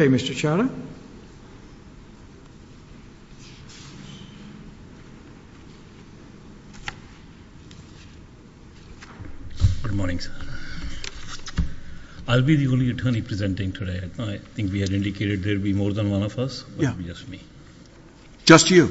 Good morning, sir. I will be the only attorney presenting today. I think we have indicated there will be more than one of us, but it will be just me.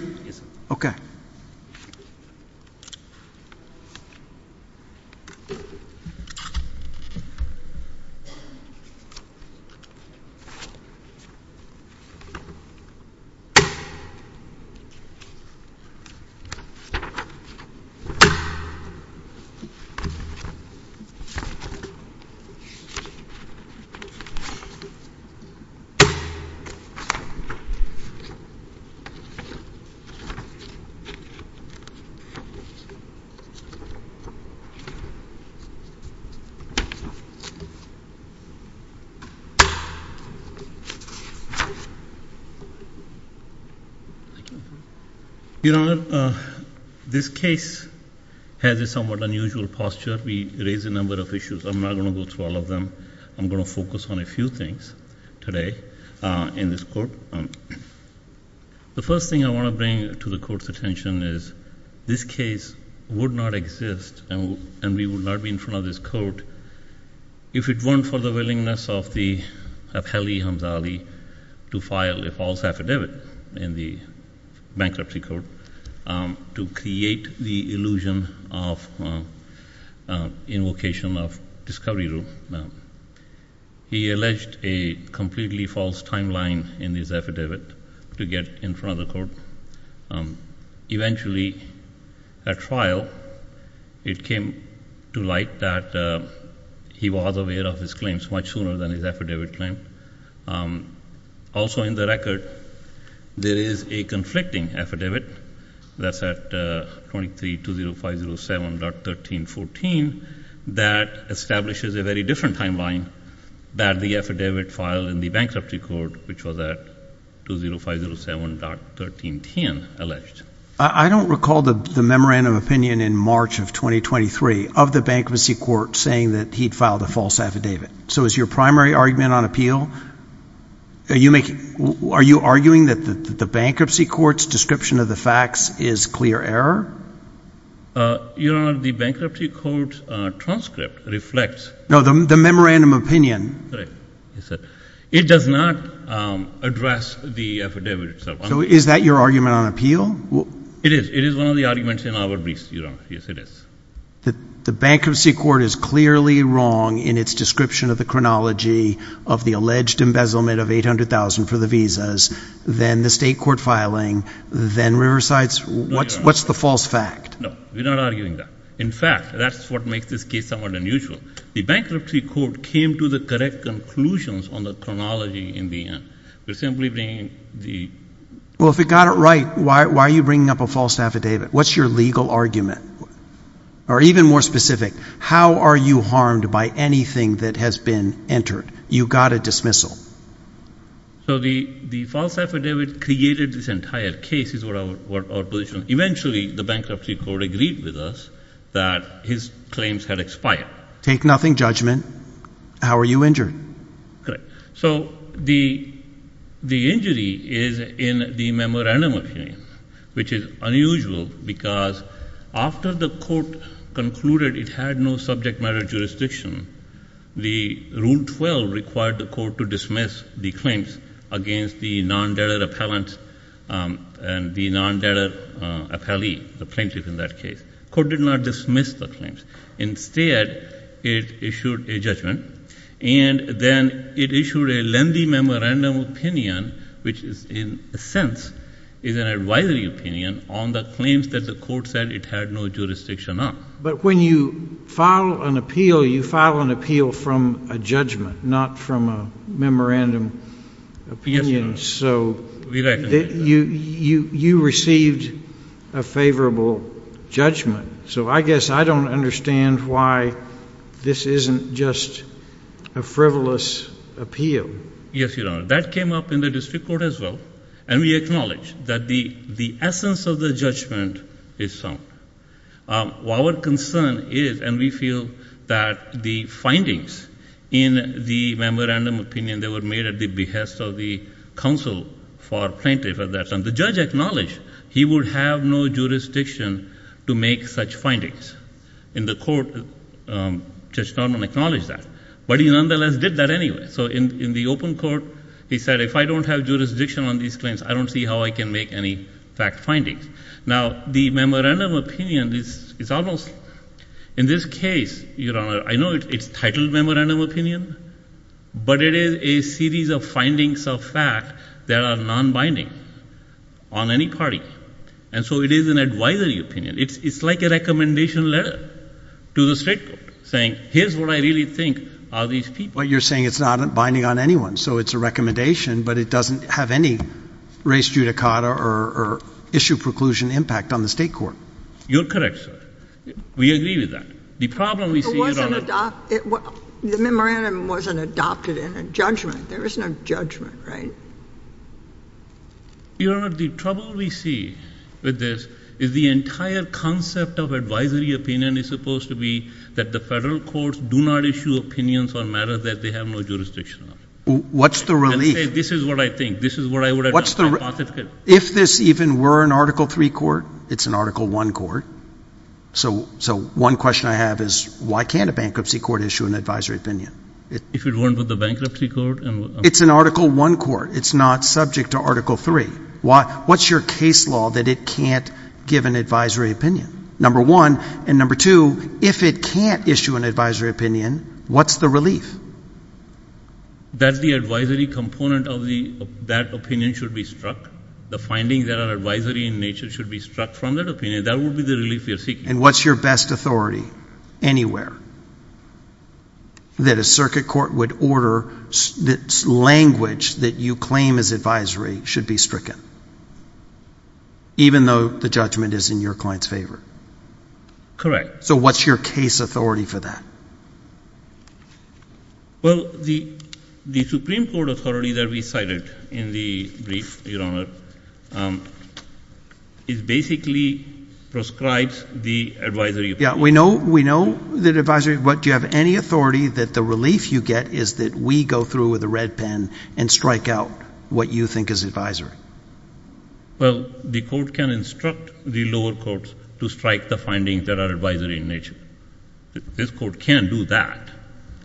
Your Honor, this case has a somewhat unusual posture. We raised a number of issues. I am not going to go through all of them. I am going to focus on a few things today. The first thing I want to bring to the Court's attention is this case would not exist, and we would not be in front of this Court, if it weren't for the willingness of Ali to file a false affidavit in the bankruptcy court to create the illusion of invocation of discovery rule. He alleged a completely false timeline in his affidavit to get in front of the Court. Eventually, at trial, it came to light that he was aware of his claims much sooner than his affidavit claim. Also, in the record, there is a conflicting affidavit that is at 230507.1314 that establishes a very different timeline than the affidavit filed in the bankruptcy court, which was at 230507.1310, alleged. I don't recall the memorandum of opinion in March of 2023 of the bankruptcy court saying that he had filed a false affidavit. So is your primary argument on appeal? Are you arguing that the bankruptcy court's description of the facts is clear error? Your Honor, the bankruptcy court transcript reflects— No, the memorandum of opinion. Correct. It does not address the affidavit itself. So is that your argument on appeal? It is. It is one of the arguments in our briefs, Your Honor. Yes, it is. The bankruptcy court is clearly wrong in its description of the chronology of the alleged embezzlement of $800,000 for the visas, then the state court filing, then Riverside's—what's the false fact? No, we're not arguing that. In fact, that's what makes this case somewhat unusual. The bankruptcy court came to the correct conclusions on the chronology in the end. They're simply bringing the— Well, if it got it right, why are you bringing up a false affidavit? What's your legal argument? Or even more specific, how are you harmed by anything that has been entered? You got a dismissal. So the false affidavit created this entire case is what our position—eventually, the bankruptcy court agreed with us that his claims had expired. Take nothing judgment. How are you injured? Correct. So the injury is in the memorandum of hearing, which is unusual because after the court concluded it had no subject matter jurisdiction, the Rule 12 required the court to dismiss the claims against the non-debtor appellant and the non-debtor appellee, the plaintiff in that case. The court did not dismiss the claims. Instead, it issued a judgment, and then it issued a lengthy memorandum opinion, which is in a sense is an advisory opinion on the claims that the court said it had no jurisdiction on. But when you file an appeal, you file an appeal from a judgment, not from a memorandum opinion. Yes, Your Honor. We recognize that. So you received a favorable judgment. So I guess I don't understand why this isn't just a frivolous appeal. Yes, Your Honor. That came up in the district court as well, and we acknowledge that the essence of the judgment is sound. Our concern is, and we feel that the findings in the memorandum opinion that were made at the behest of the counsel for plaintiff at that time, the judge acknowledged he would have no jurisdiction to make such findings. In the court, Judge Norman acknowledged that, but he nonetheless did that anyway. So in the open court, he said, if I don't have jurisdiction on these claims, I don't see how I can make any fact findings. Now, the memorandum opinion is almost, in this case, Your Honor, I know it's titled memorandum opinion, but it is a series of findings of fact that are non-binding on any party. And so it is an advisory opinion. It's like a recommendation letter to the state court, saying, here's what I really think of these people. But you're saying it's not binding on anyone, so it's a recommendation, but it doesn't have any race judicata or issue preclusion impact on the state court. You're correct, sir. We agree with that. The problem we see, Your Honor— It wasn't—the memorandum wasn't adopted in a judgment. There is no judgment, right? Your Honor, the trouble we see with this is the entire concept of advisory opinion is supposed to be that the federal courts do not issue opinions on matters that they have no jurisdiction on. What's the relief? Let's say this is what I think. This is what I would— If this even were an Article III court, it's an Article I court. So one question I have is, why can't a bankruptcy court issue an advisory opinion? If it weren't for the bankruptcy court? It's an Article I court. It's not subject to Article III. What's your case law that it can't give an advisory opinion? Number one, and number two, if it can't issue an advisory opinion, what's the relief? That the advisory component of that opinion should be struck. The findings that are advisory in nature should be struck from that opinion. That would be the relief we are seeking. And what's your best authority anywhere that a circuit court would order that language that you claim as advisory should be stricken, even though the judgment is in your client's favor? Correct. So what's your case authority for that? Well, the Supreme Court authority that we cited in the brief, Your Honor, basically prescribes the advisory opinion. Yeah, we know that advisory—but do you have any authority that the relief you get is that we go through with a red pen and strike out what you think is advisory? Well, the court can instruct the lower courts to strike the findings that are advisory in nature. This court can't do that,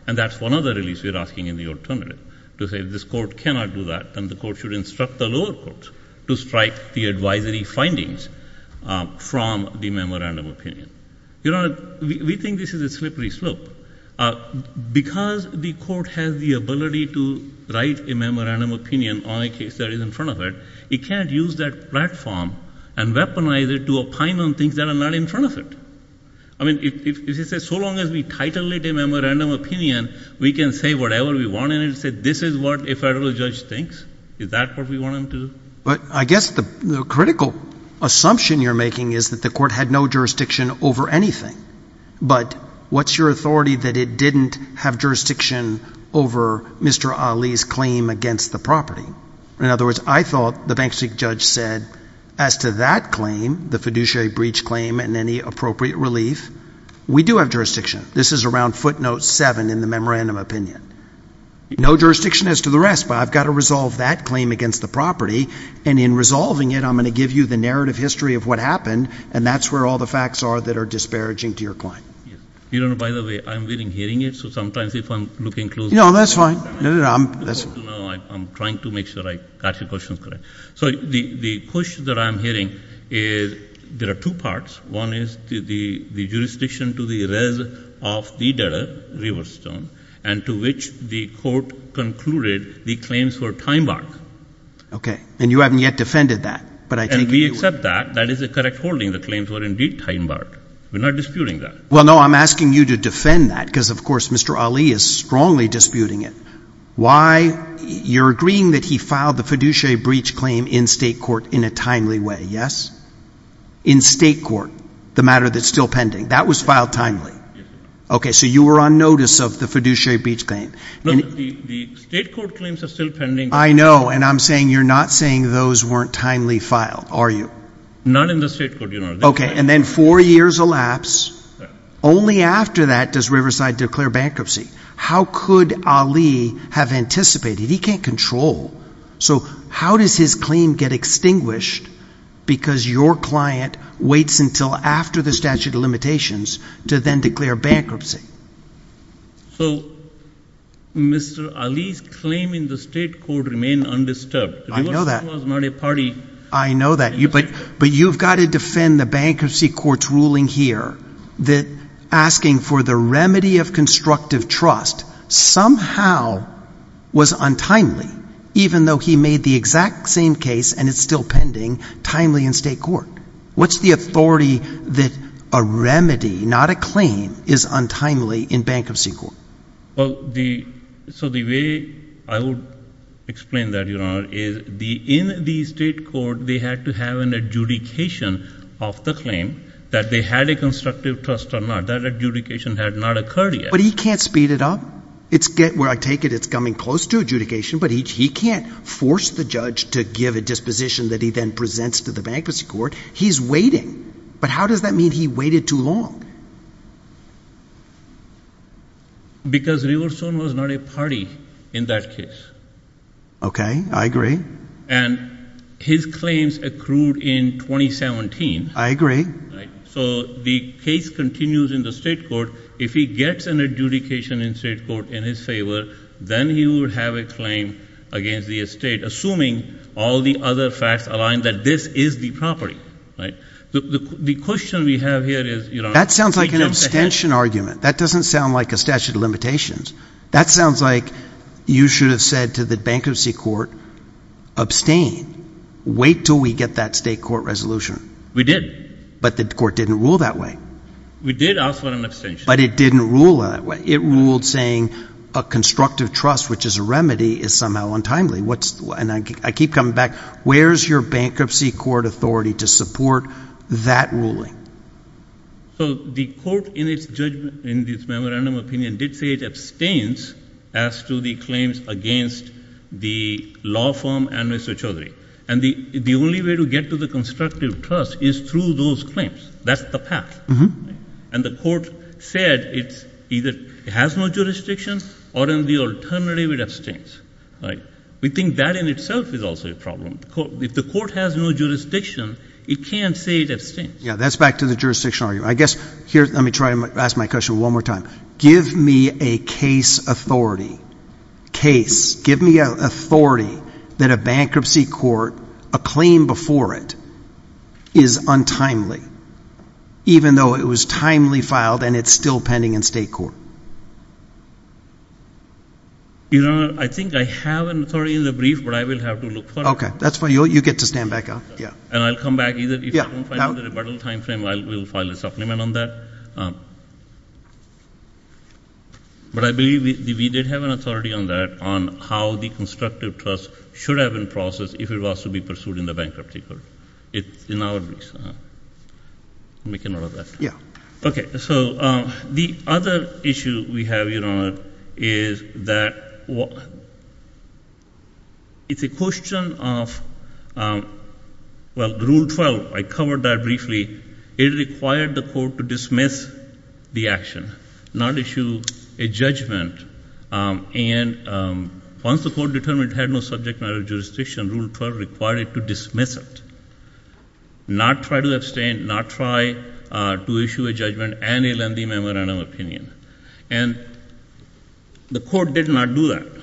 and that's one of the reliefs we are asking in the alternative. To say this court cannot do that, then the court should instruct the lower courts to strike the advisory findings from the memorandum opinion. Your Honor, we think this is a slippery slope. Because the court has the ability to write a memorandum opinion on a case that is in front of it, it can't use that platform and weaponize it to opine on things that are not in front of it. I mean, so long as we title it a memorandum opinion, we can say whatever we want in it and say this is what a federal judge thinks. Is that what we want them to do? But I guess the critical assumption you're making is that the court had no jurisdiction over anything. But what's your authority that it didn't have jurisdiction over Mr. Ali's claim against the property? In other words, I thought the Bank Street judge said, as to that claim, the fiduciary breach claim and any appropriate relief, we do have jurisdiction. This is around footnote 7 in the memorandum opinion. No jurisdiction as to the rest, but I've got to resolve that claim against the property. And in resolving it, I'm going to give you the narrative history of what happened. And that's where all the facts are that are disparaging to your client. Your Honor, by the way, I'm really hearing it. So sometimes if I'm looking closely. No, that's fine. I'm trying to make sure I got your questions correct. So the question that I'm hearing is there are two parts. One is the jurisdiction to the rest of the debtor, Riverstone, and to which the court concluded the claims were time-barred. Okay. And you haven't yet defended that. And we accept that. That is a correct holding. The claims were indeed time-barred. We're not disputing that. Well, no, I'm asking you to defend that because, of course, Mr. Ali is strongly disputing it. Why? You're agreeing that he filed the fiduciary breach claim in state court in a timely way, yes? In state court, the matter that's still pending. That was filed timely. Yes, sir. Okay. So you were on notice of the fiduciary breach claim. No, the state court claims are still pending. I know. And I'm saying you're not saying those weren't timely filed, are you? None in the state court, Your Honor. Okay. And then four years elapsed. Only after that does Riverside declare bankruptcy. How could Ali have anticipated? He can't control. So how does his claim get extinguished because your client waits until after the statute of limitations to then declare bankruptcy? So Mr. Ali's claim in the state court remained undisturbed. I know that. Riverside was not a party. I know that. But you've got to defend the bankruptcy court's ruling here that asking for the remedy of constructive trust somehow was untimely, even though he made the exact same case, and it's still pending, timely in state court. What's the authority that a remedy, not a claim, is untimely in bankruptcy court? Well, so the way I would explain that, Your Honor, is in the state court they had to have an adjudication of the claim, that they had a constructive trust or not. That adjudication had not occurred yet. But he can't speed it up. Where I take it, it's coming close to adjudication, but he can't force the judge to give a disposition that he then presents to the bankruptcy court. He's waiting. But how does that mean he waited too long? Because Riverstone was not a party in that case. Okay. I agree. And his claims accrued in 2017. I agree. So the case continues in the state court. If he gets an adjudication in state court in his favor, then he will have a claim against the estate, assuming all the other facts align that this is the property. Right? The question we have here is, Your Honor. That sounds like an abstention argument. That doesn't sound like a statute of limitations. That sounds like you should have said to the bankruptcy court, abstain, wait until we get that state court resolution. We did. But the court didn't rule that way. We did ask for an abstention. But it didn't rule that way. It ruled saying a constructive trust, which is a remedy, is somehow untimely. And I keep coming back. Where is your bankruptcy court authority to support that ruling? So the court, in its judgment, in its memorandum of opinion, did say it abstains as to the claims against the law firm and Mr. Chaudhary. And the only way to get to the constructive trust is through those claims. That's the path. And the court said it either has no jurisdiction or in the alternative it abstains. We think that in itself is also a problem. If the court has no jurisdiction, it can't say it abstains. Yeah, that's back to the jurisdiction argument. I guess here let me try to ask my question one more time. Give me a case authority. Case. Give me authority that a bankruptcy court, a claim before it, is untimely, even though it was timely filed and it's still pending in state court. Your Honor, I think I have an authority in the brief, but I will have to look for it. Okay. That's fine. You get to stand back up. And I'll come back. If I don't find it in the rebuttal time frame, I will file a supplement on that. But I believe we did have an authority on that, on how the constructive trust should have been processed if it was to be pursued in the bankruptcy court. It's in our briefs. I'll make a note of that. Yeah. Okay. So the other issue we have, Your Honor, is that it's a question of, well, Rule 12. I covered that briefly. It required the court to dismiss the action, not issue a judgment. And once the court determined it had no subject matter jurisdiction, Rule 12 required it to dismiss it, not try to abstain, not try to issue a judgment, and a lengthy memorandum of opinion. And the court did not do that.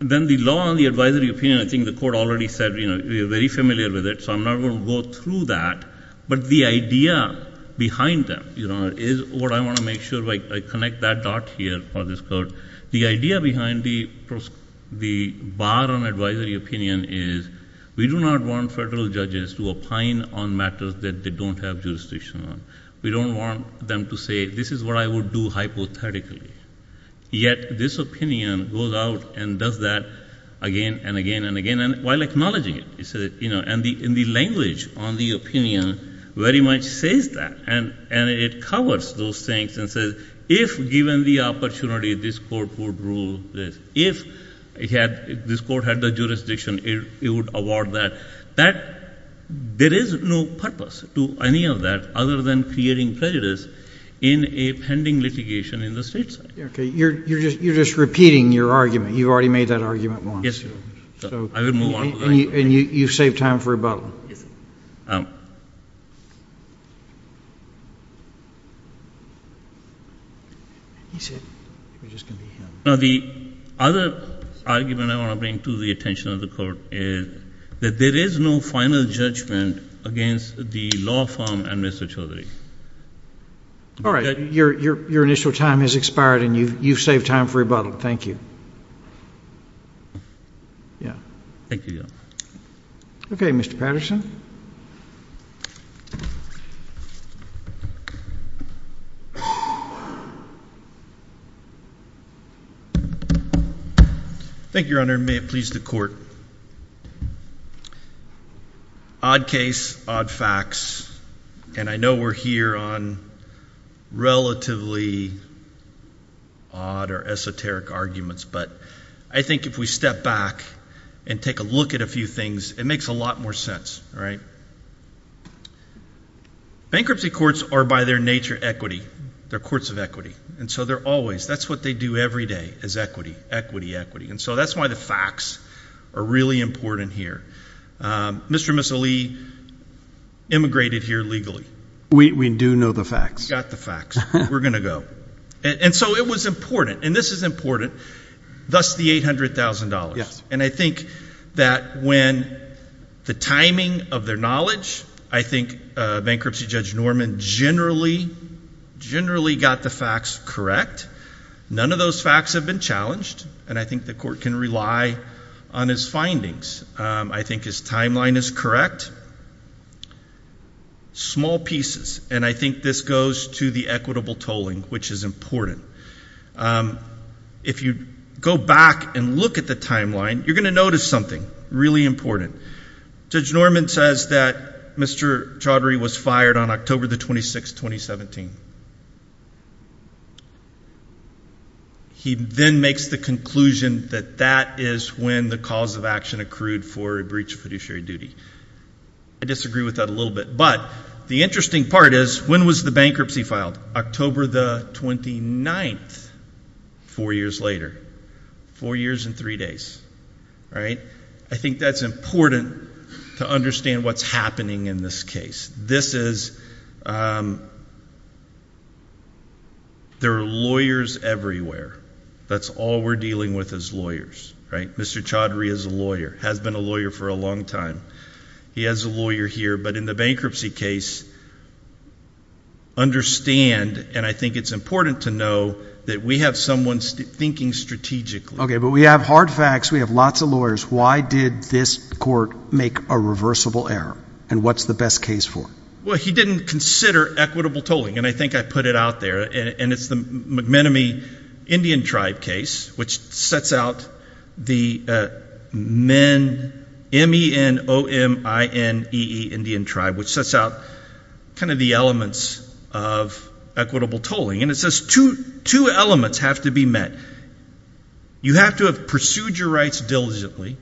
Then the law on the advisory opinion, I think the court already said, you know, we are very familiar with it, so I'm not going to go through that. But the idea behind that, Your Honor, is what I want to make sure I connect that dot here for this court. The idea behind the bar on advisory opinion is we do not want federal judges to opine on matters that they don't have jurisdiction on. We don't want them to say, this is what I would do hypothetically. Yet this opinion goes out and does that again and again and again, while acknowledging it. And the language on the opinion very much says that. And it covers those things and says, if given the opportunity, this court would rule this. If this court had the jurisdiction, it would award that. There is no purpose to any of that other than creating prejudice in a pending litigation in the state side. Okay. You're just repeating your argument. You've already made that argument once. Yes, Your Honor. I will move on. And you've saved time for rebuttal. The other argument I want to bring to the attention of the court is that there is no final judgment against the law firm and Mr. Chaudhary. All right. Your initial time has expired and you've saved time for rebuttal. Thank you. Yeah. Thank you, Your Honor. Okay. Mr. Patterson. Thank you, Your Honor. And may it please the court. Odd case, odd facts, and I know we're here on relatively odd or esoteric arguments. But I think if we step back and take a look at a few things, it makes a lot more sense. All right. Bankruptcy courts are, by their nature, equity. They're courts of equity. And so they're always. That's what they do every day is equity, equity, equity. And so that's why the facts are really important here. Mr. and Mrs. Lee immigrated here legally. We do know the facts. We've got the facts. We're going to go. And so it was important, and this is important, thus the $800,000. Yes. And I think that when the timing of their knowledge, I think Bankruptcy Judge Norman generally got the facts correct. None of those facts have been challenged, and I think the court can rely on his findings. I think his timeline is correct. Small pieces, and I think this goes to the equitable tolling, which is important. If you go back and look at the timeline, you're going to notice something really important. Judge Norman says that Mr. Chaudhary was fired on October the 26th, 2017. He then makes the conclusion that that is when the cause of action accrued for a breach of fiduciary duty. I disagree with that a little bit, but the interesting part is when was the bankruptcy filed? October the 29th, four years later. Four years and three days. All right. I think that's important to understand what's happening in this case. This is, there are lawyers everywhere. That's all we're dealing with is lawyers, right? Mr. Chaudhary is a lawyer, has been a lawyer for a long time. He has a lawyer here, but in the bankruptcy case, understand, and I think it's important to know that we have someone thinking strategically. Okay, but we have hard facts. We have lots of lawyers. Why did this court make a reversible error, and what's the best case for? Well, he didn't consider equitable tolling, and I think I put it out there, and it's the McManamy Indian Tribe case, which sets out the M-E-N-O-M-I-N-E-E Indian Tribe, which sets out kind of the elements of equitable tolling, and it says two elements have to be met. One, you have to have pursued your rights diligently,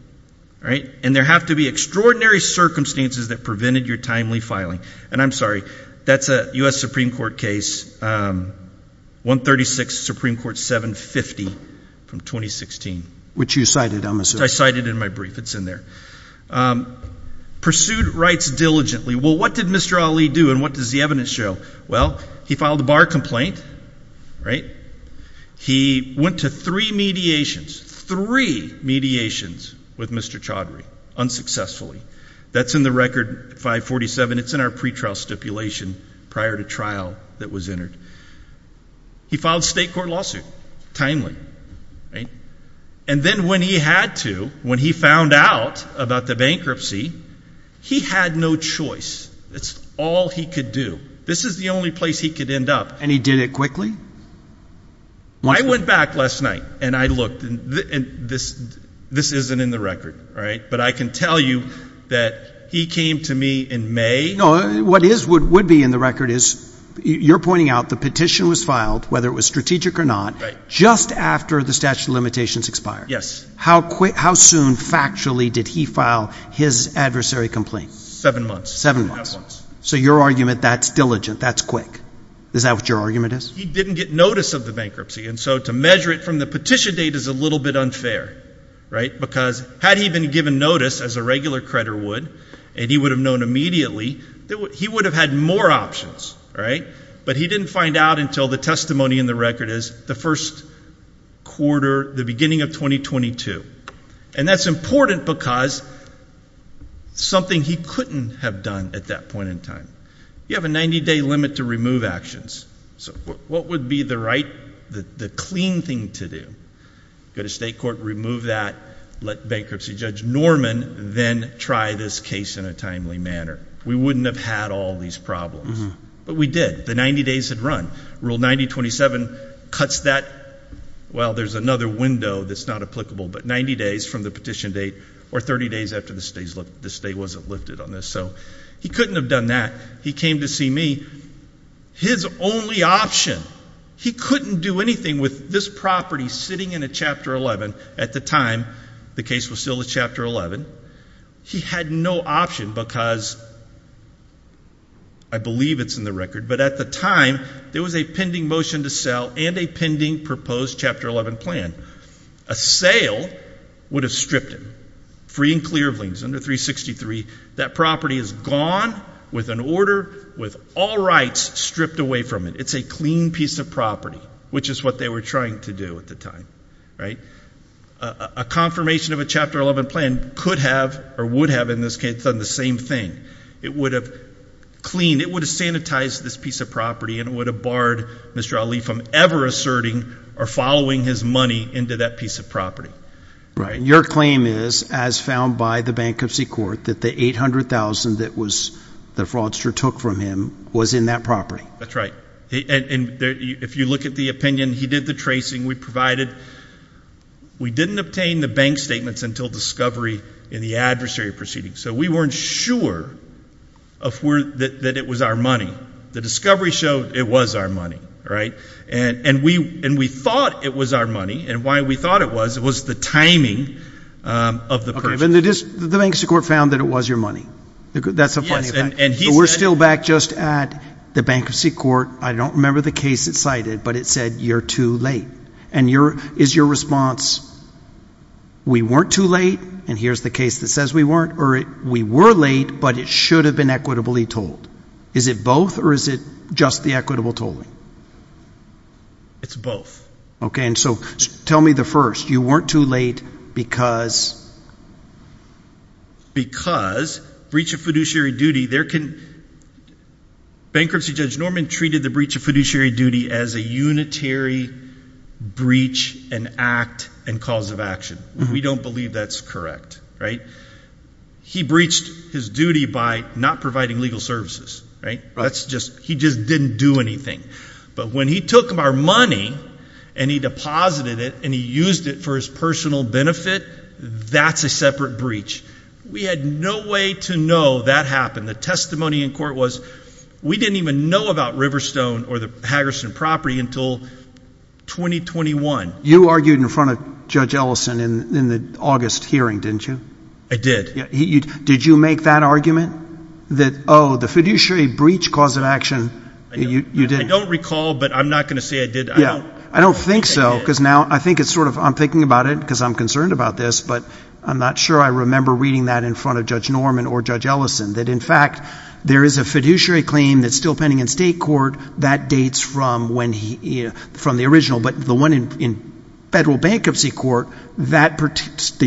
all right, and there have to be extraordinary circumstances that prevented your timely filing. And I'm sorry, that's a U.S. Supreme Court case, 136 Supreme Court 750 from 2016. Which you cited, I'm assuming. Which I cited in my brief. It's in there. Pursued rights diligently. Well, what did Mr. Ali do, and what does the evidence show? Well, he filed a bar complaint, right? He went to three mediations, three mediations with Mr. Chaudhary, unsuccessfully. That's in the record 547. It's in our pretrial stipulation prior to trial that was entered. He filed a state court lawsuit timely, right? And then when he had to, when he found out about the bankruptcy, he had no choice. That's all he could do. This is the only place he could end up. And he did it quickly? Well, I went back last night, and I looked, and this isn't in the record, all right? But I can tell you that he came to me in May. No, what would be in the record is you're pointing out the petition was filed, whether it was strategic or not, just after the statute of limitations expired. Yes. How soon factually did he file his adversary complaint? Seven months. Seven months. So your argument, that's diligent, that's quick. Is that what your argument is? He didn't get notice of the bankruptcy, and so to measure it from the petition date is a little bit unfair, right? Because had he been given notice, as a regular creditor would, and he would have known immediately, he would have had more options, right? But he didn't find out until the testimony in the record is the first quarter, the beginning of 2022. And that's important because it's something he couldn't have done at that point in time. You have a 90-day limit to remove actions. So what would be the right, the clean thing to do? Go to state court, remove that, let bankruptcy judge Norman then try this case in a timely manner. We wouldn't have had all these problems. But we did. The 90 days had run. Rule 9027 cuts that. Well, there's another window that's not applicable, but 90 days from the petition date or 30 days after the stay wasn't lifted on this. So he couldn't have done that. He came to see me. His only option, he couldn't do anything with this property sitting in a Chapter 11. At the time, the case was still a Chapter 11. He had no option because, I believe it's in the record, but at the time, there was a pending motion to sell and a pending proposed Chapter 11 plan. A sale would have stripped him, free and clear of liens, under 363. That property is gone with an order with all rights stripped away from it. It's a clean piece of property, which is what they were trying to do at the time. A confirmation of a Chapter 11 plan could have or would have, in this case, done the same thing. It would have cleaned, it would have sanitized this piece of property, and it would have barred Mr. Ali from ever asserting or following his money into that piece of property. Your claim is, as found by the Bankruptcy Court, that the $800,000 that the fraudster took from him was in that property. That's right. If you look at the opinion, he did the tracing. We didn't obtain the bank statements until discovery in the adversary proceedings. So we weren't sure that it was our money. The discovery showed it was our money. And we thought it was our money, and why we thought it was, was the timing of the purchase. The Bankruptcy Court found that it was your money. That's a funny fact. We're still back just at the Bankruptcy Court. I don't remember the case it cited, but it said you're too late. Is your response, we weren't too late, and here's the case that says we weren't, or we were late, but it should have been equitably told? Is it both, or is it just the equitably told? It's both. Okay, and so tell me the first. You weren't too late because? Because breach of fiduciary duty, there can, Bankruptcy Judge Norman treated the breach of fiduciary duty as a unitary breach and act and cause of action. We don't believe that's correct, right? He breached his duty by not providing legal services, right? He just didn't do anything. But when he took our money and he deposited it and he used it for his personal benefit, that's a separate breach. We had no way to know that happened. The testimony in court was we didn't even know about Riverstone or the Haggerston property until 2021. You argued in front of Judge Ellison in the August hearing, didn't you? Did you make that argument that, oh, the fiduciary breach cause of action, you didn't? I don't recall, but I'm not going to say I did. I don't think so because now I think it's sort of I'm thinking about it because I'm concerned about this, but I'm not sure I remember reading that in front of Judge Norman or Judge Ellison, that in fact there is a fiduciary claim that's still pending in state court that dates from the original, but the one in federal bankruptcy court, the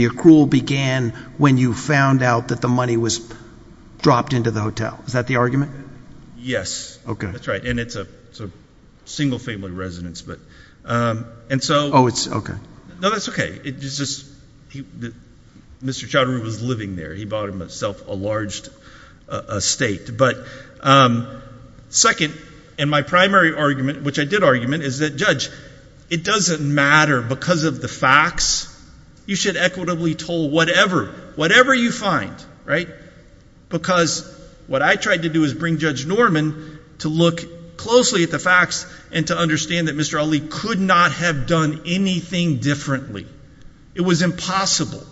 accrual began when you found out that the money was dropped into the hotel. Is that the argument? Yes. Okay. That's right, and it's a single-family residence. Oh, okay. No, that's okay. It's just Mr. Chatteroo was living there. He bought himself a large estate. But second, and my primary argument, which I did argument, is that, Judge, it doesn't matter because of the facts. You should equitably toll whatever, whatever you find, right, because what I tried to do is bring Judge Norman to look closely at the facts and to understand that Mr. Ali could not have done anything differently. It was impossible,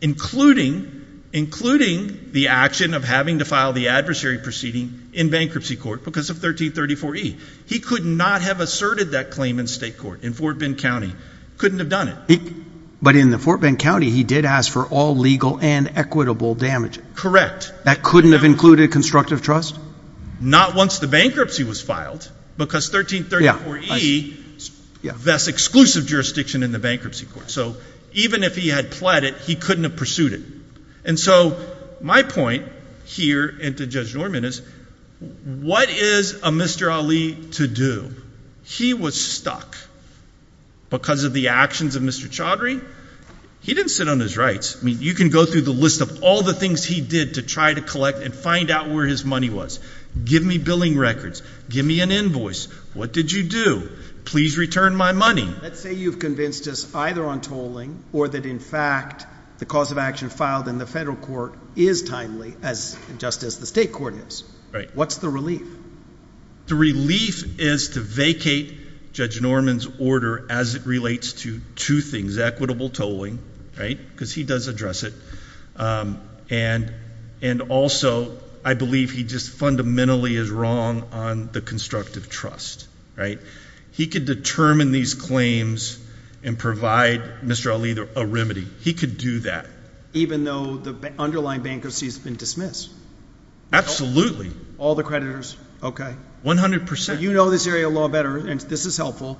including the action of having to file the adversary proceeding in bankruptcy court because of 1334E. He could not have asserted that claim in state court, in Fort Bend County. Couldn't have done it. But in the Fort Bend County, he did ask for all legal and equitable damages. Correct. That couldn't have included constructive trust? Not once the bankruptcy was filed because 1334E vests exclusive jurisdiction in the bankruptcy court. So even if he had pled it, he couldn't have pursued it. And so my point here and to Judge Norman is what is a Mr. Ali to do? He was stuck because of the actions of Mr. Chaudhry. He didn't sit on his rights. I mean, you can go through the list of all the things he did to try to collect and find out where his money was. Give me billing records. Give me an invoice. What did you do? Please return my money. Let's say you've convinced us either on tolling or that, in fact, the cause of action filed in the federal court is timely, just as the state court is. What's the relief? The relief is to vacate Judge Norman's order as it relates to two things, equitable tolling, right, because he does address it, and also I believe he just fundamentally is wrong on the constructive trust, right? He could determine these claims and provide Mr. Ali a remedy. He could do that. Even though the underlying bankruptcy has been dismissed? Absolutely. All the creditors? Okay. One hundred percent. You know this area of law better, and this is helpful.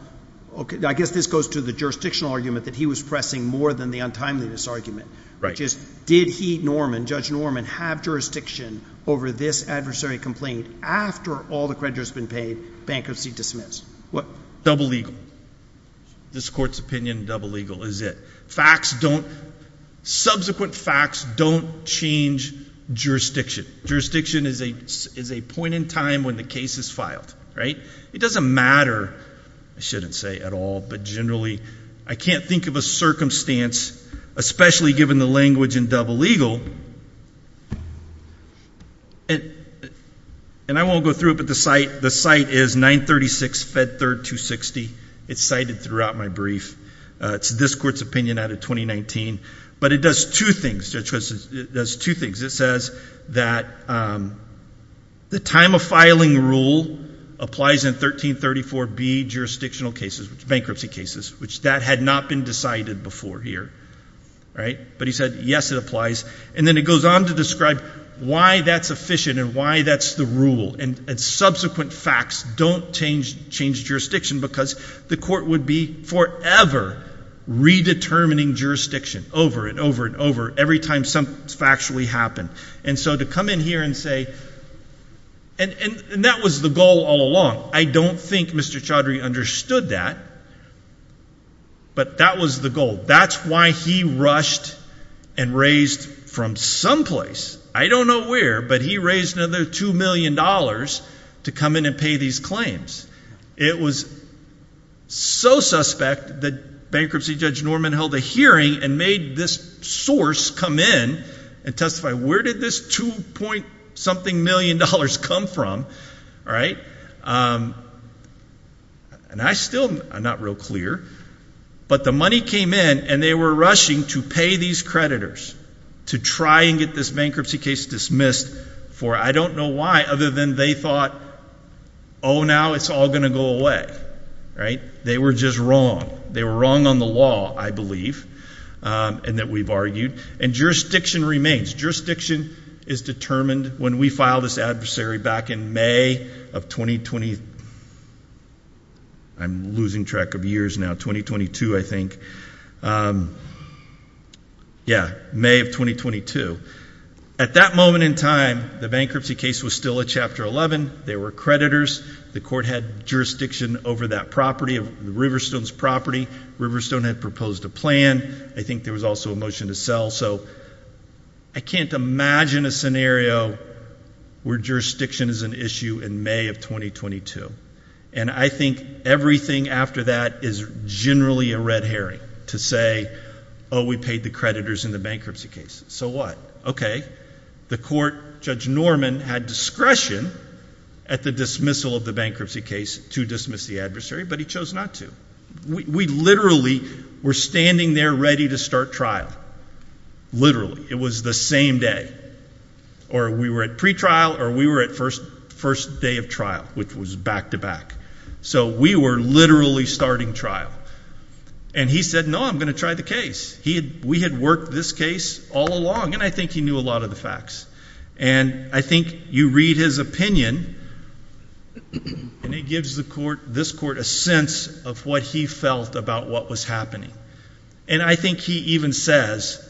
I guess this goes to the jurisdictional argument that he was pressing more than the untimeliness argument, which is did he, Judge Norman, have jurisdiction over this adversary complaint after all the creditors have been paid, bankruptcy dismissed? Double legal. This court's opinion, double legal is it. Subsequent facts don't change jurisdiction. Jurisdiction is a point in time when the case is filed, right? It doesn't matter, I shouldn't say, at all, but generally I can't think of a circumstance, especially given the language in double legal, and I won't go through it, but the site is 936 Fed Third 260. It's cited throughout my brief. It's this court's opinion out of 2019, but it does two things, Judge Christensen, it does two things. It says that the time of filing rule applies in 1334B jurisdictional cases, bankruptcy cases, which that had not been decided before here, right? But he said, yes, it applies, and then it goes on to describe why that's efficient and why that's the rule, and subsequent facts don't change jurisdiction because the court would be forever redetermining jurisdiction over and over and over every time something factually happened. And so to come in here and say, and that was the goal all along. I don't think Mr. Chaudhry understood that, but that was the goal. That's why he rushed and raised from someplace, I don't know where, but he raised another two million dollars to come in and pay these claims. It was so suspect that bankruptcy Judge Norman held a hearing and made this source come in and testify, where did this two point something million dollars come from? And I still, I'm not real clear, but the money came in and they were rushing to pay these creditors to try and get this bankruptcy case dismissed, for I don't know why, other than they thought, oh now it's all going to go away. They were just wrong. They were wrong on the law, I believe, and that we've argued. And jurisdiction remains. Jurisdiction is determined when we file this adversary back in May of 2020. I'm losing track of years now, 2022 I think. Yeah, May of 2022. At that moment in time, the bankruptcy case was still a Chapter 11. They were creditors. The court had jurisdiction over that property, Riverstone's property. Riverstone had proposed a plan. I think there was also a motion to sell. So I can't imagine a scenario where jurisdiction is an issue in May of 2022. And I think everything after that is generally a red herring to say, oh we paid the creditors in the bankruptcy case. So what? Okay. The court, Judge Norman had discretion at the dismissal of the bankruptcy case to dismiss the adversary, but he chose not to. We literally were standing there ready to start trial. Literally. It was the same day. Or we were at pretrial, or we were at first day of trial, which was back to back. So we were literally starting trial. And he said, no, I'm going to try the case. We had worked this case all along, and I think he knew a lot of the facts. And I think you read his opinion, and it gives this court a sense of what he felt about what was happening. And I think he even says,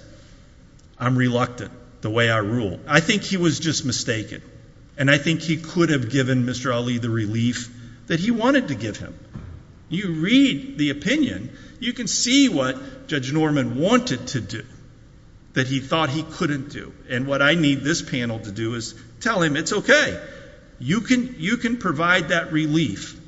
I'm reluctant, the way I rule. I think he was just mistaken. And I think he could have given Mr. Ali the relief that he wanted to give him. You read the opinion, you can see what Judge Norman wanted to do that he thought he couldn't do. And what I need this panel to do is tell him it's okay. You can provide that relief.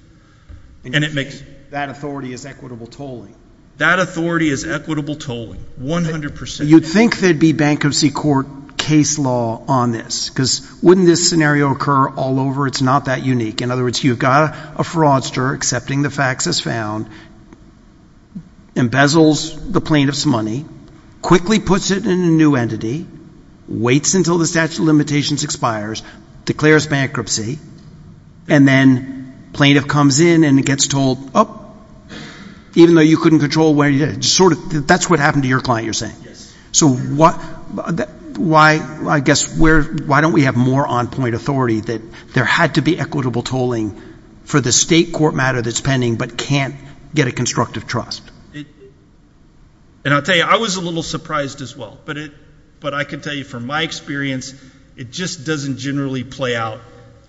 That authority is equitable tolling. That authority is equitable tolling, 100%. You'd think there'd be bankruptcy court case law on this, because wouldn't this scenario occur all over? It's not that unique. In other words, you've got a fraudster accepting the facts as found, embezzles the plaintiff's money, quickly puts it in a new entity, waits until the statute of limitations expires, declares bankruptcy, and then plaintiff comes in and gets told, oh, even though you couldn't control where you did it, that's what happened to your client, you're saying. Yes. So why, I guess, why don't we have more on-point authority that there had to be equitable tolling for the state court matter that's pending but can't get a constructive trust? And I'll tell you, I was a little surprised as well, but I can tell you from my experience, it just doesn't generally play out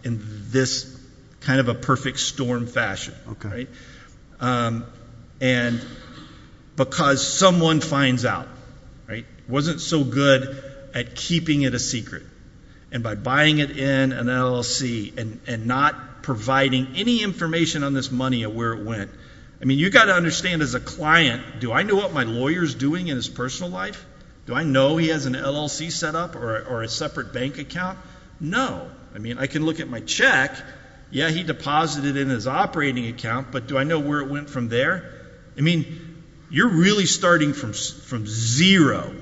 in this kind of a perfect storm fashion. And because someone finds out, right, wasn't so good at keeping it a secret, and by buying it in an LLC and not providing any information on this money of where it went, I mean, you've got to understand as a client, do I know what my lawyer's doing in his personal life? Do I know he has an LLC set up or a separate bank account? No. I mean, I can look at my check. Yeah, he deposited it in his operating account, but do I know where it went from there? I mean, you're really starting from zero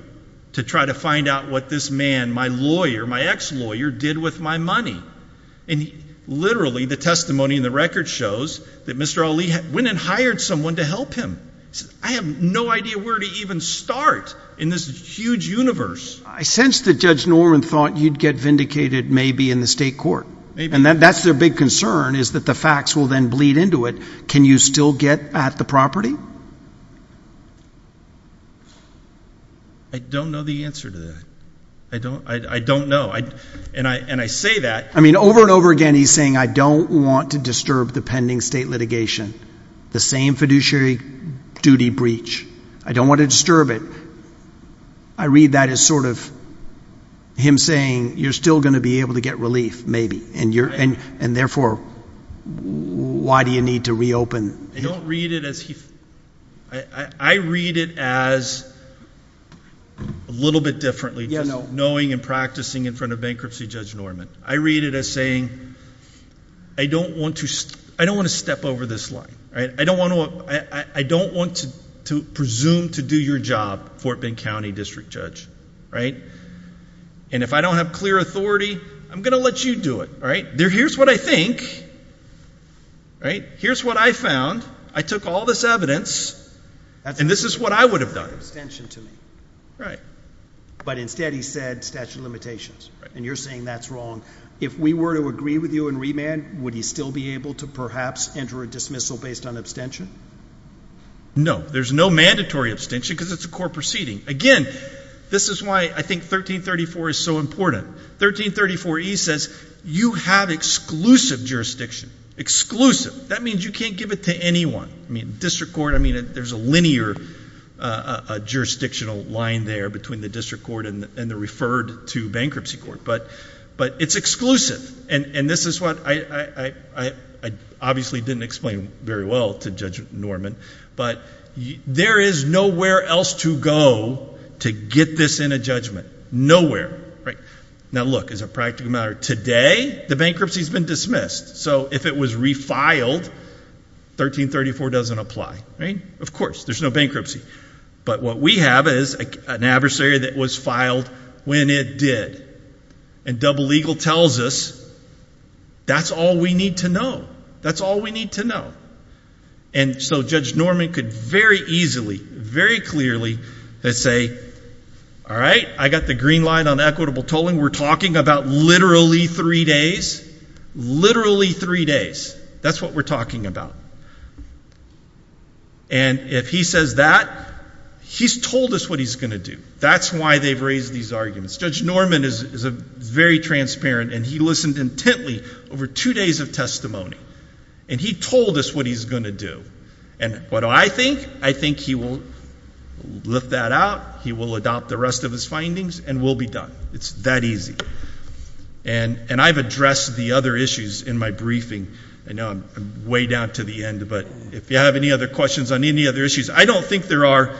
to try to find out what this man, my lawyer, my ex-lawyer, did with my money. And literally the testimony in the record shows that Mr. Ali went and hired someone to help him. I have no idea where to even start in this huge universe. I sense that Judge Norman thought you'd get vindicated maybe in the state court. Maybe. And that's their big concern is that the facts will then bleed into it. Can you still get at the property? I don't know the answer to that. I don't know. And I say that. I mean, over and over again he's saying I don't want to disturb the pending state litigation, the same fiduciary duty breach. I don't want to disturb it. I read that as sort of him saying you're still going to be able to get relief maybe, and therefore why do you need to reopen? I don't read it as he. I read it as, a little bit differently, just knowing and practicing in front of bankruptcy Judge Norman. I read it as saying I don't want to step over this line. I don't want to presume to do your job, Fort Bend County District Judge. And if I don't have clear authority, I'm going to let you do it. Here's what I think. Here's what I found. I took all this evidence, and this is what I would have done. But instead he said statute of limitations, and you're saying that's wrong. If we were to agree with you in remand, would he still be able to perhaps enter a dismissal based on abstention? No. There's no mandatory abstention because it's a court proceeding. Again, this is why I think 1334 is so important. 1334E says you have exclusive jurisdiction, exclusive. That means you can't give it to anyone. I mean district court, I mean there's a linear jurisdictional line there between the district court and the referred to bankruptcy court. But it's exclusive, and this is what I obviously didn't explain very well to Judge Norman. But there is nowhere else to go to get this in a judgment. Nowhere. Now look, as a practical matter, today the bankruptcy has been dismissed. So if it was refiled, 1334 doesn't apply. Of course, there's no bankruptcy. But what we have is an adversary that was filed when it did. And double legal tells us that's all we need to know. That's all we need to know. And so Judge Norman could very easily, very clearly say, all right, I got the green line on equitable tolling. We're talking about literally three days. Literally three days. That's what we're talking about. And if he says that, he's told us what he's going to do. That's why they've raised these arguments. Judge Norman is very transparent, and he listened intently over two days of testimony. And he told us what he's going to do. And what do I think? I think he will lift that out, he will adopt the rest of his findings, and we'll be done. It's that easy. And I've addressed the other issues in my briefing. I know I'm way down to the end, but if you have any other questions on any other issues, I don't think there are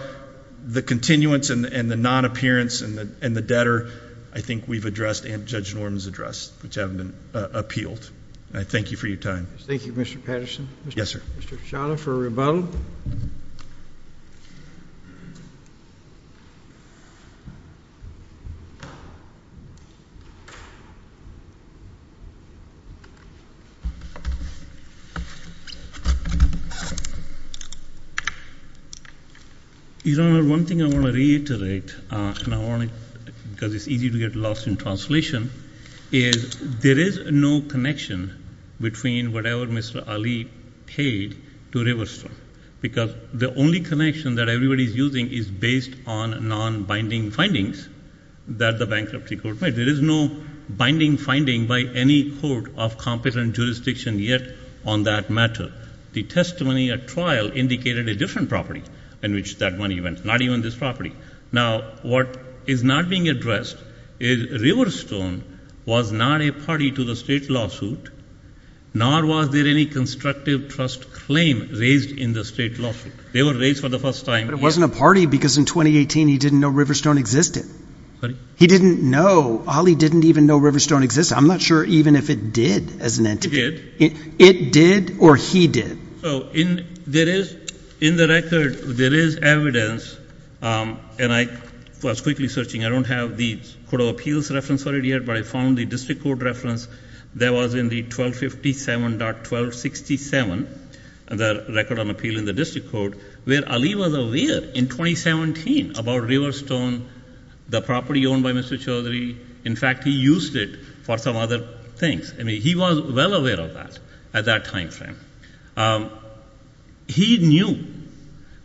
the continuance and the non-appearance and the debtor. I think we've addressed and Judge Norman's addressed, which haven't appealed. I thank you for your time. Thank you, Mr. Patterson. Yes, sir. Mr. Shahla for rebuttal. Your Honor, one thing I want to reiterate, and I want to, because it's easy to get lost in translation, is there is no connection between whatever Mr. Ali paid to Riverstone. Because the only connection that everybody's using is based on non-binding findings that the bankruptcy court made. There is no binding finding by any court of competent jurisdiction yet on that matter. The testimony at trial indicated a different property in which that money went, not even this property. Now, what is not being addressed is Riverstone was not a party to the state lawsuit, nor was there any constructive trust claim raised in the state lawsuit. They were raised for the first time. But it wasn't a party because in 2018 he didn't know Riverstone existed. Sorry? He didn't know. Ali didn't even know Riverstone existed. I'm not sure even if it did as an entity. It did. It did or he did? So in the record there is evidence, and I was quickly searching. I don't have the Court of Appeals reference for it yet, but I found the district court reference. There was in the 1257.1267, the record on appeal in the district court, where Ali was aware in 2017 about Riverstone, the property owned by Mr. Chaudhary. In fact, he used it for some other things. I mean, he was well aware of that at that time frame. He knew,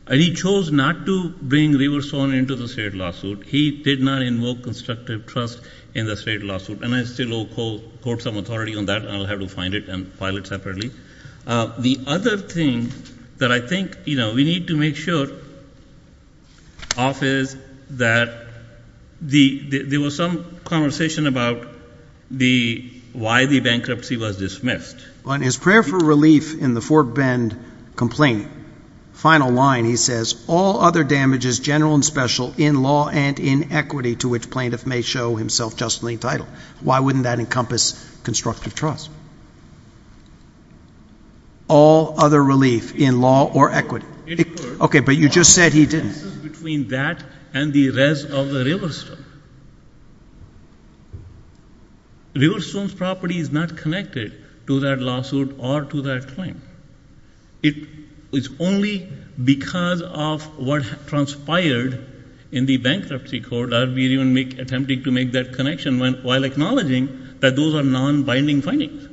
and he chose not to bring Riverstone into the state lawsuit. He did not invoke constructive trust in the state lawsuit. And I still owe courts some authority on that, and I'll have to find it and file it separately. The other thing that I think we need to make sure of is that there was some conversation about why the bankruptcy was dismissed. On his prayer for relief in the Fort Bend complaint, final line he says, all other damages, general and special, in law and in equity, to which plaintiff may show himself justly entitled. Why wouldn't that encompass constructive trust? All other relief in law or equity. Okay, but you just said he didn't. The difference is between that and the rest of the Riverstone. Riverstone's property is not connected to that lawsuit or to that claim. It's only because of what transpired in the bankruptcy court that we're even attempting to make that connection, while acknowledging that those are non-binding findings.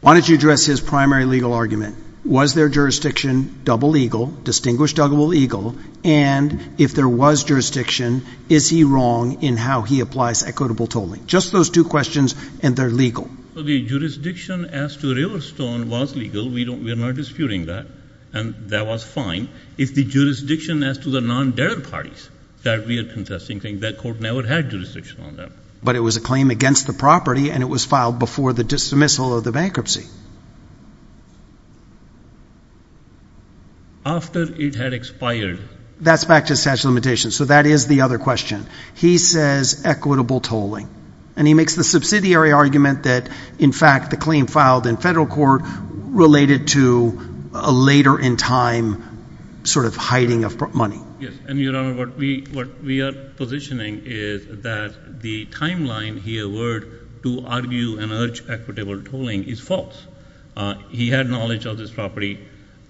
Why don't you address his primary legal argument? Was their jurisdiction double legal, distinguished double legal, and if there was jurisdiction, is he wrong in how he applies equitable tolling? Just those two questions, and they're legal. The jurisdiction as to Riverstone was legal. We are not disputing that, and that was fine. If the jurisdiction as to the non-debtor parties that we are contesting, that court never had jurisdiction on that. But it was a claim against the property, and it was filed before the dismissal of the bankruptcy. After it had expired. That's back to the statute of limitations, so that is the other question. He says equitable tolling, and he makes the subsidiary argument that, in fact, the claim filed in federal court related to a later in time sort of hiding of money. Yes, and, Your Honor, what we are positioning is that the timeline he award to argue and urge equitable tolling is false. He had knowledge of this property.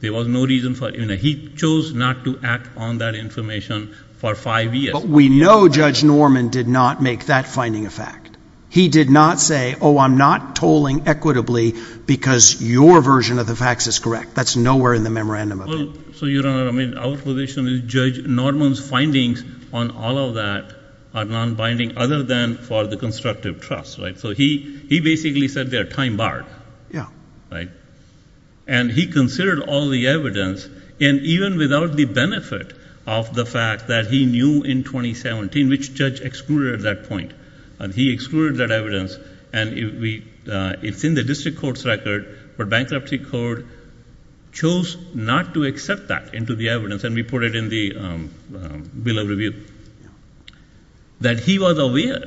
There was no reason for it. He chose not to act on that information for five years. But we know Judge Norman did not make that finding a fact. He did not say, oh, I'm not tolling equitably because your version of the facts is correct. That's nowhere in the memorandum of it. So, Your Honor, I mean, our position is Judge Norman's findings on all of that are non-binding other than for the constructive trust, right? So he basically said they are time-barred. Yeah. And he considered all the evidence, and even without the benefit of the fact that he knew in 2017, which Judge excluded at that point, and he excluded that evidence, and it's in the district court's record, but bankruptcy court chose not to accept that into the evidence, and we put it in the bill of review, that he was aware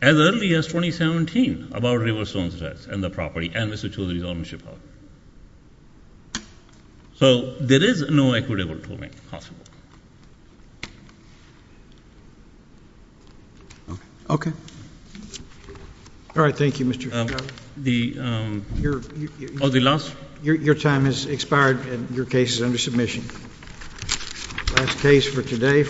as early as 2017 about Riverstone's rights and the property, and Mr. Chaudhary's ownership of it. So there is no equitable tolling possible. Okay. All right, thank you, Mr. Chaudhary. The last— Your time has expired, and your case is under submission. Last case for today.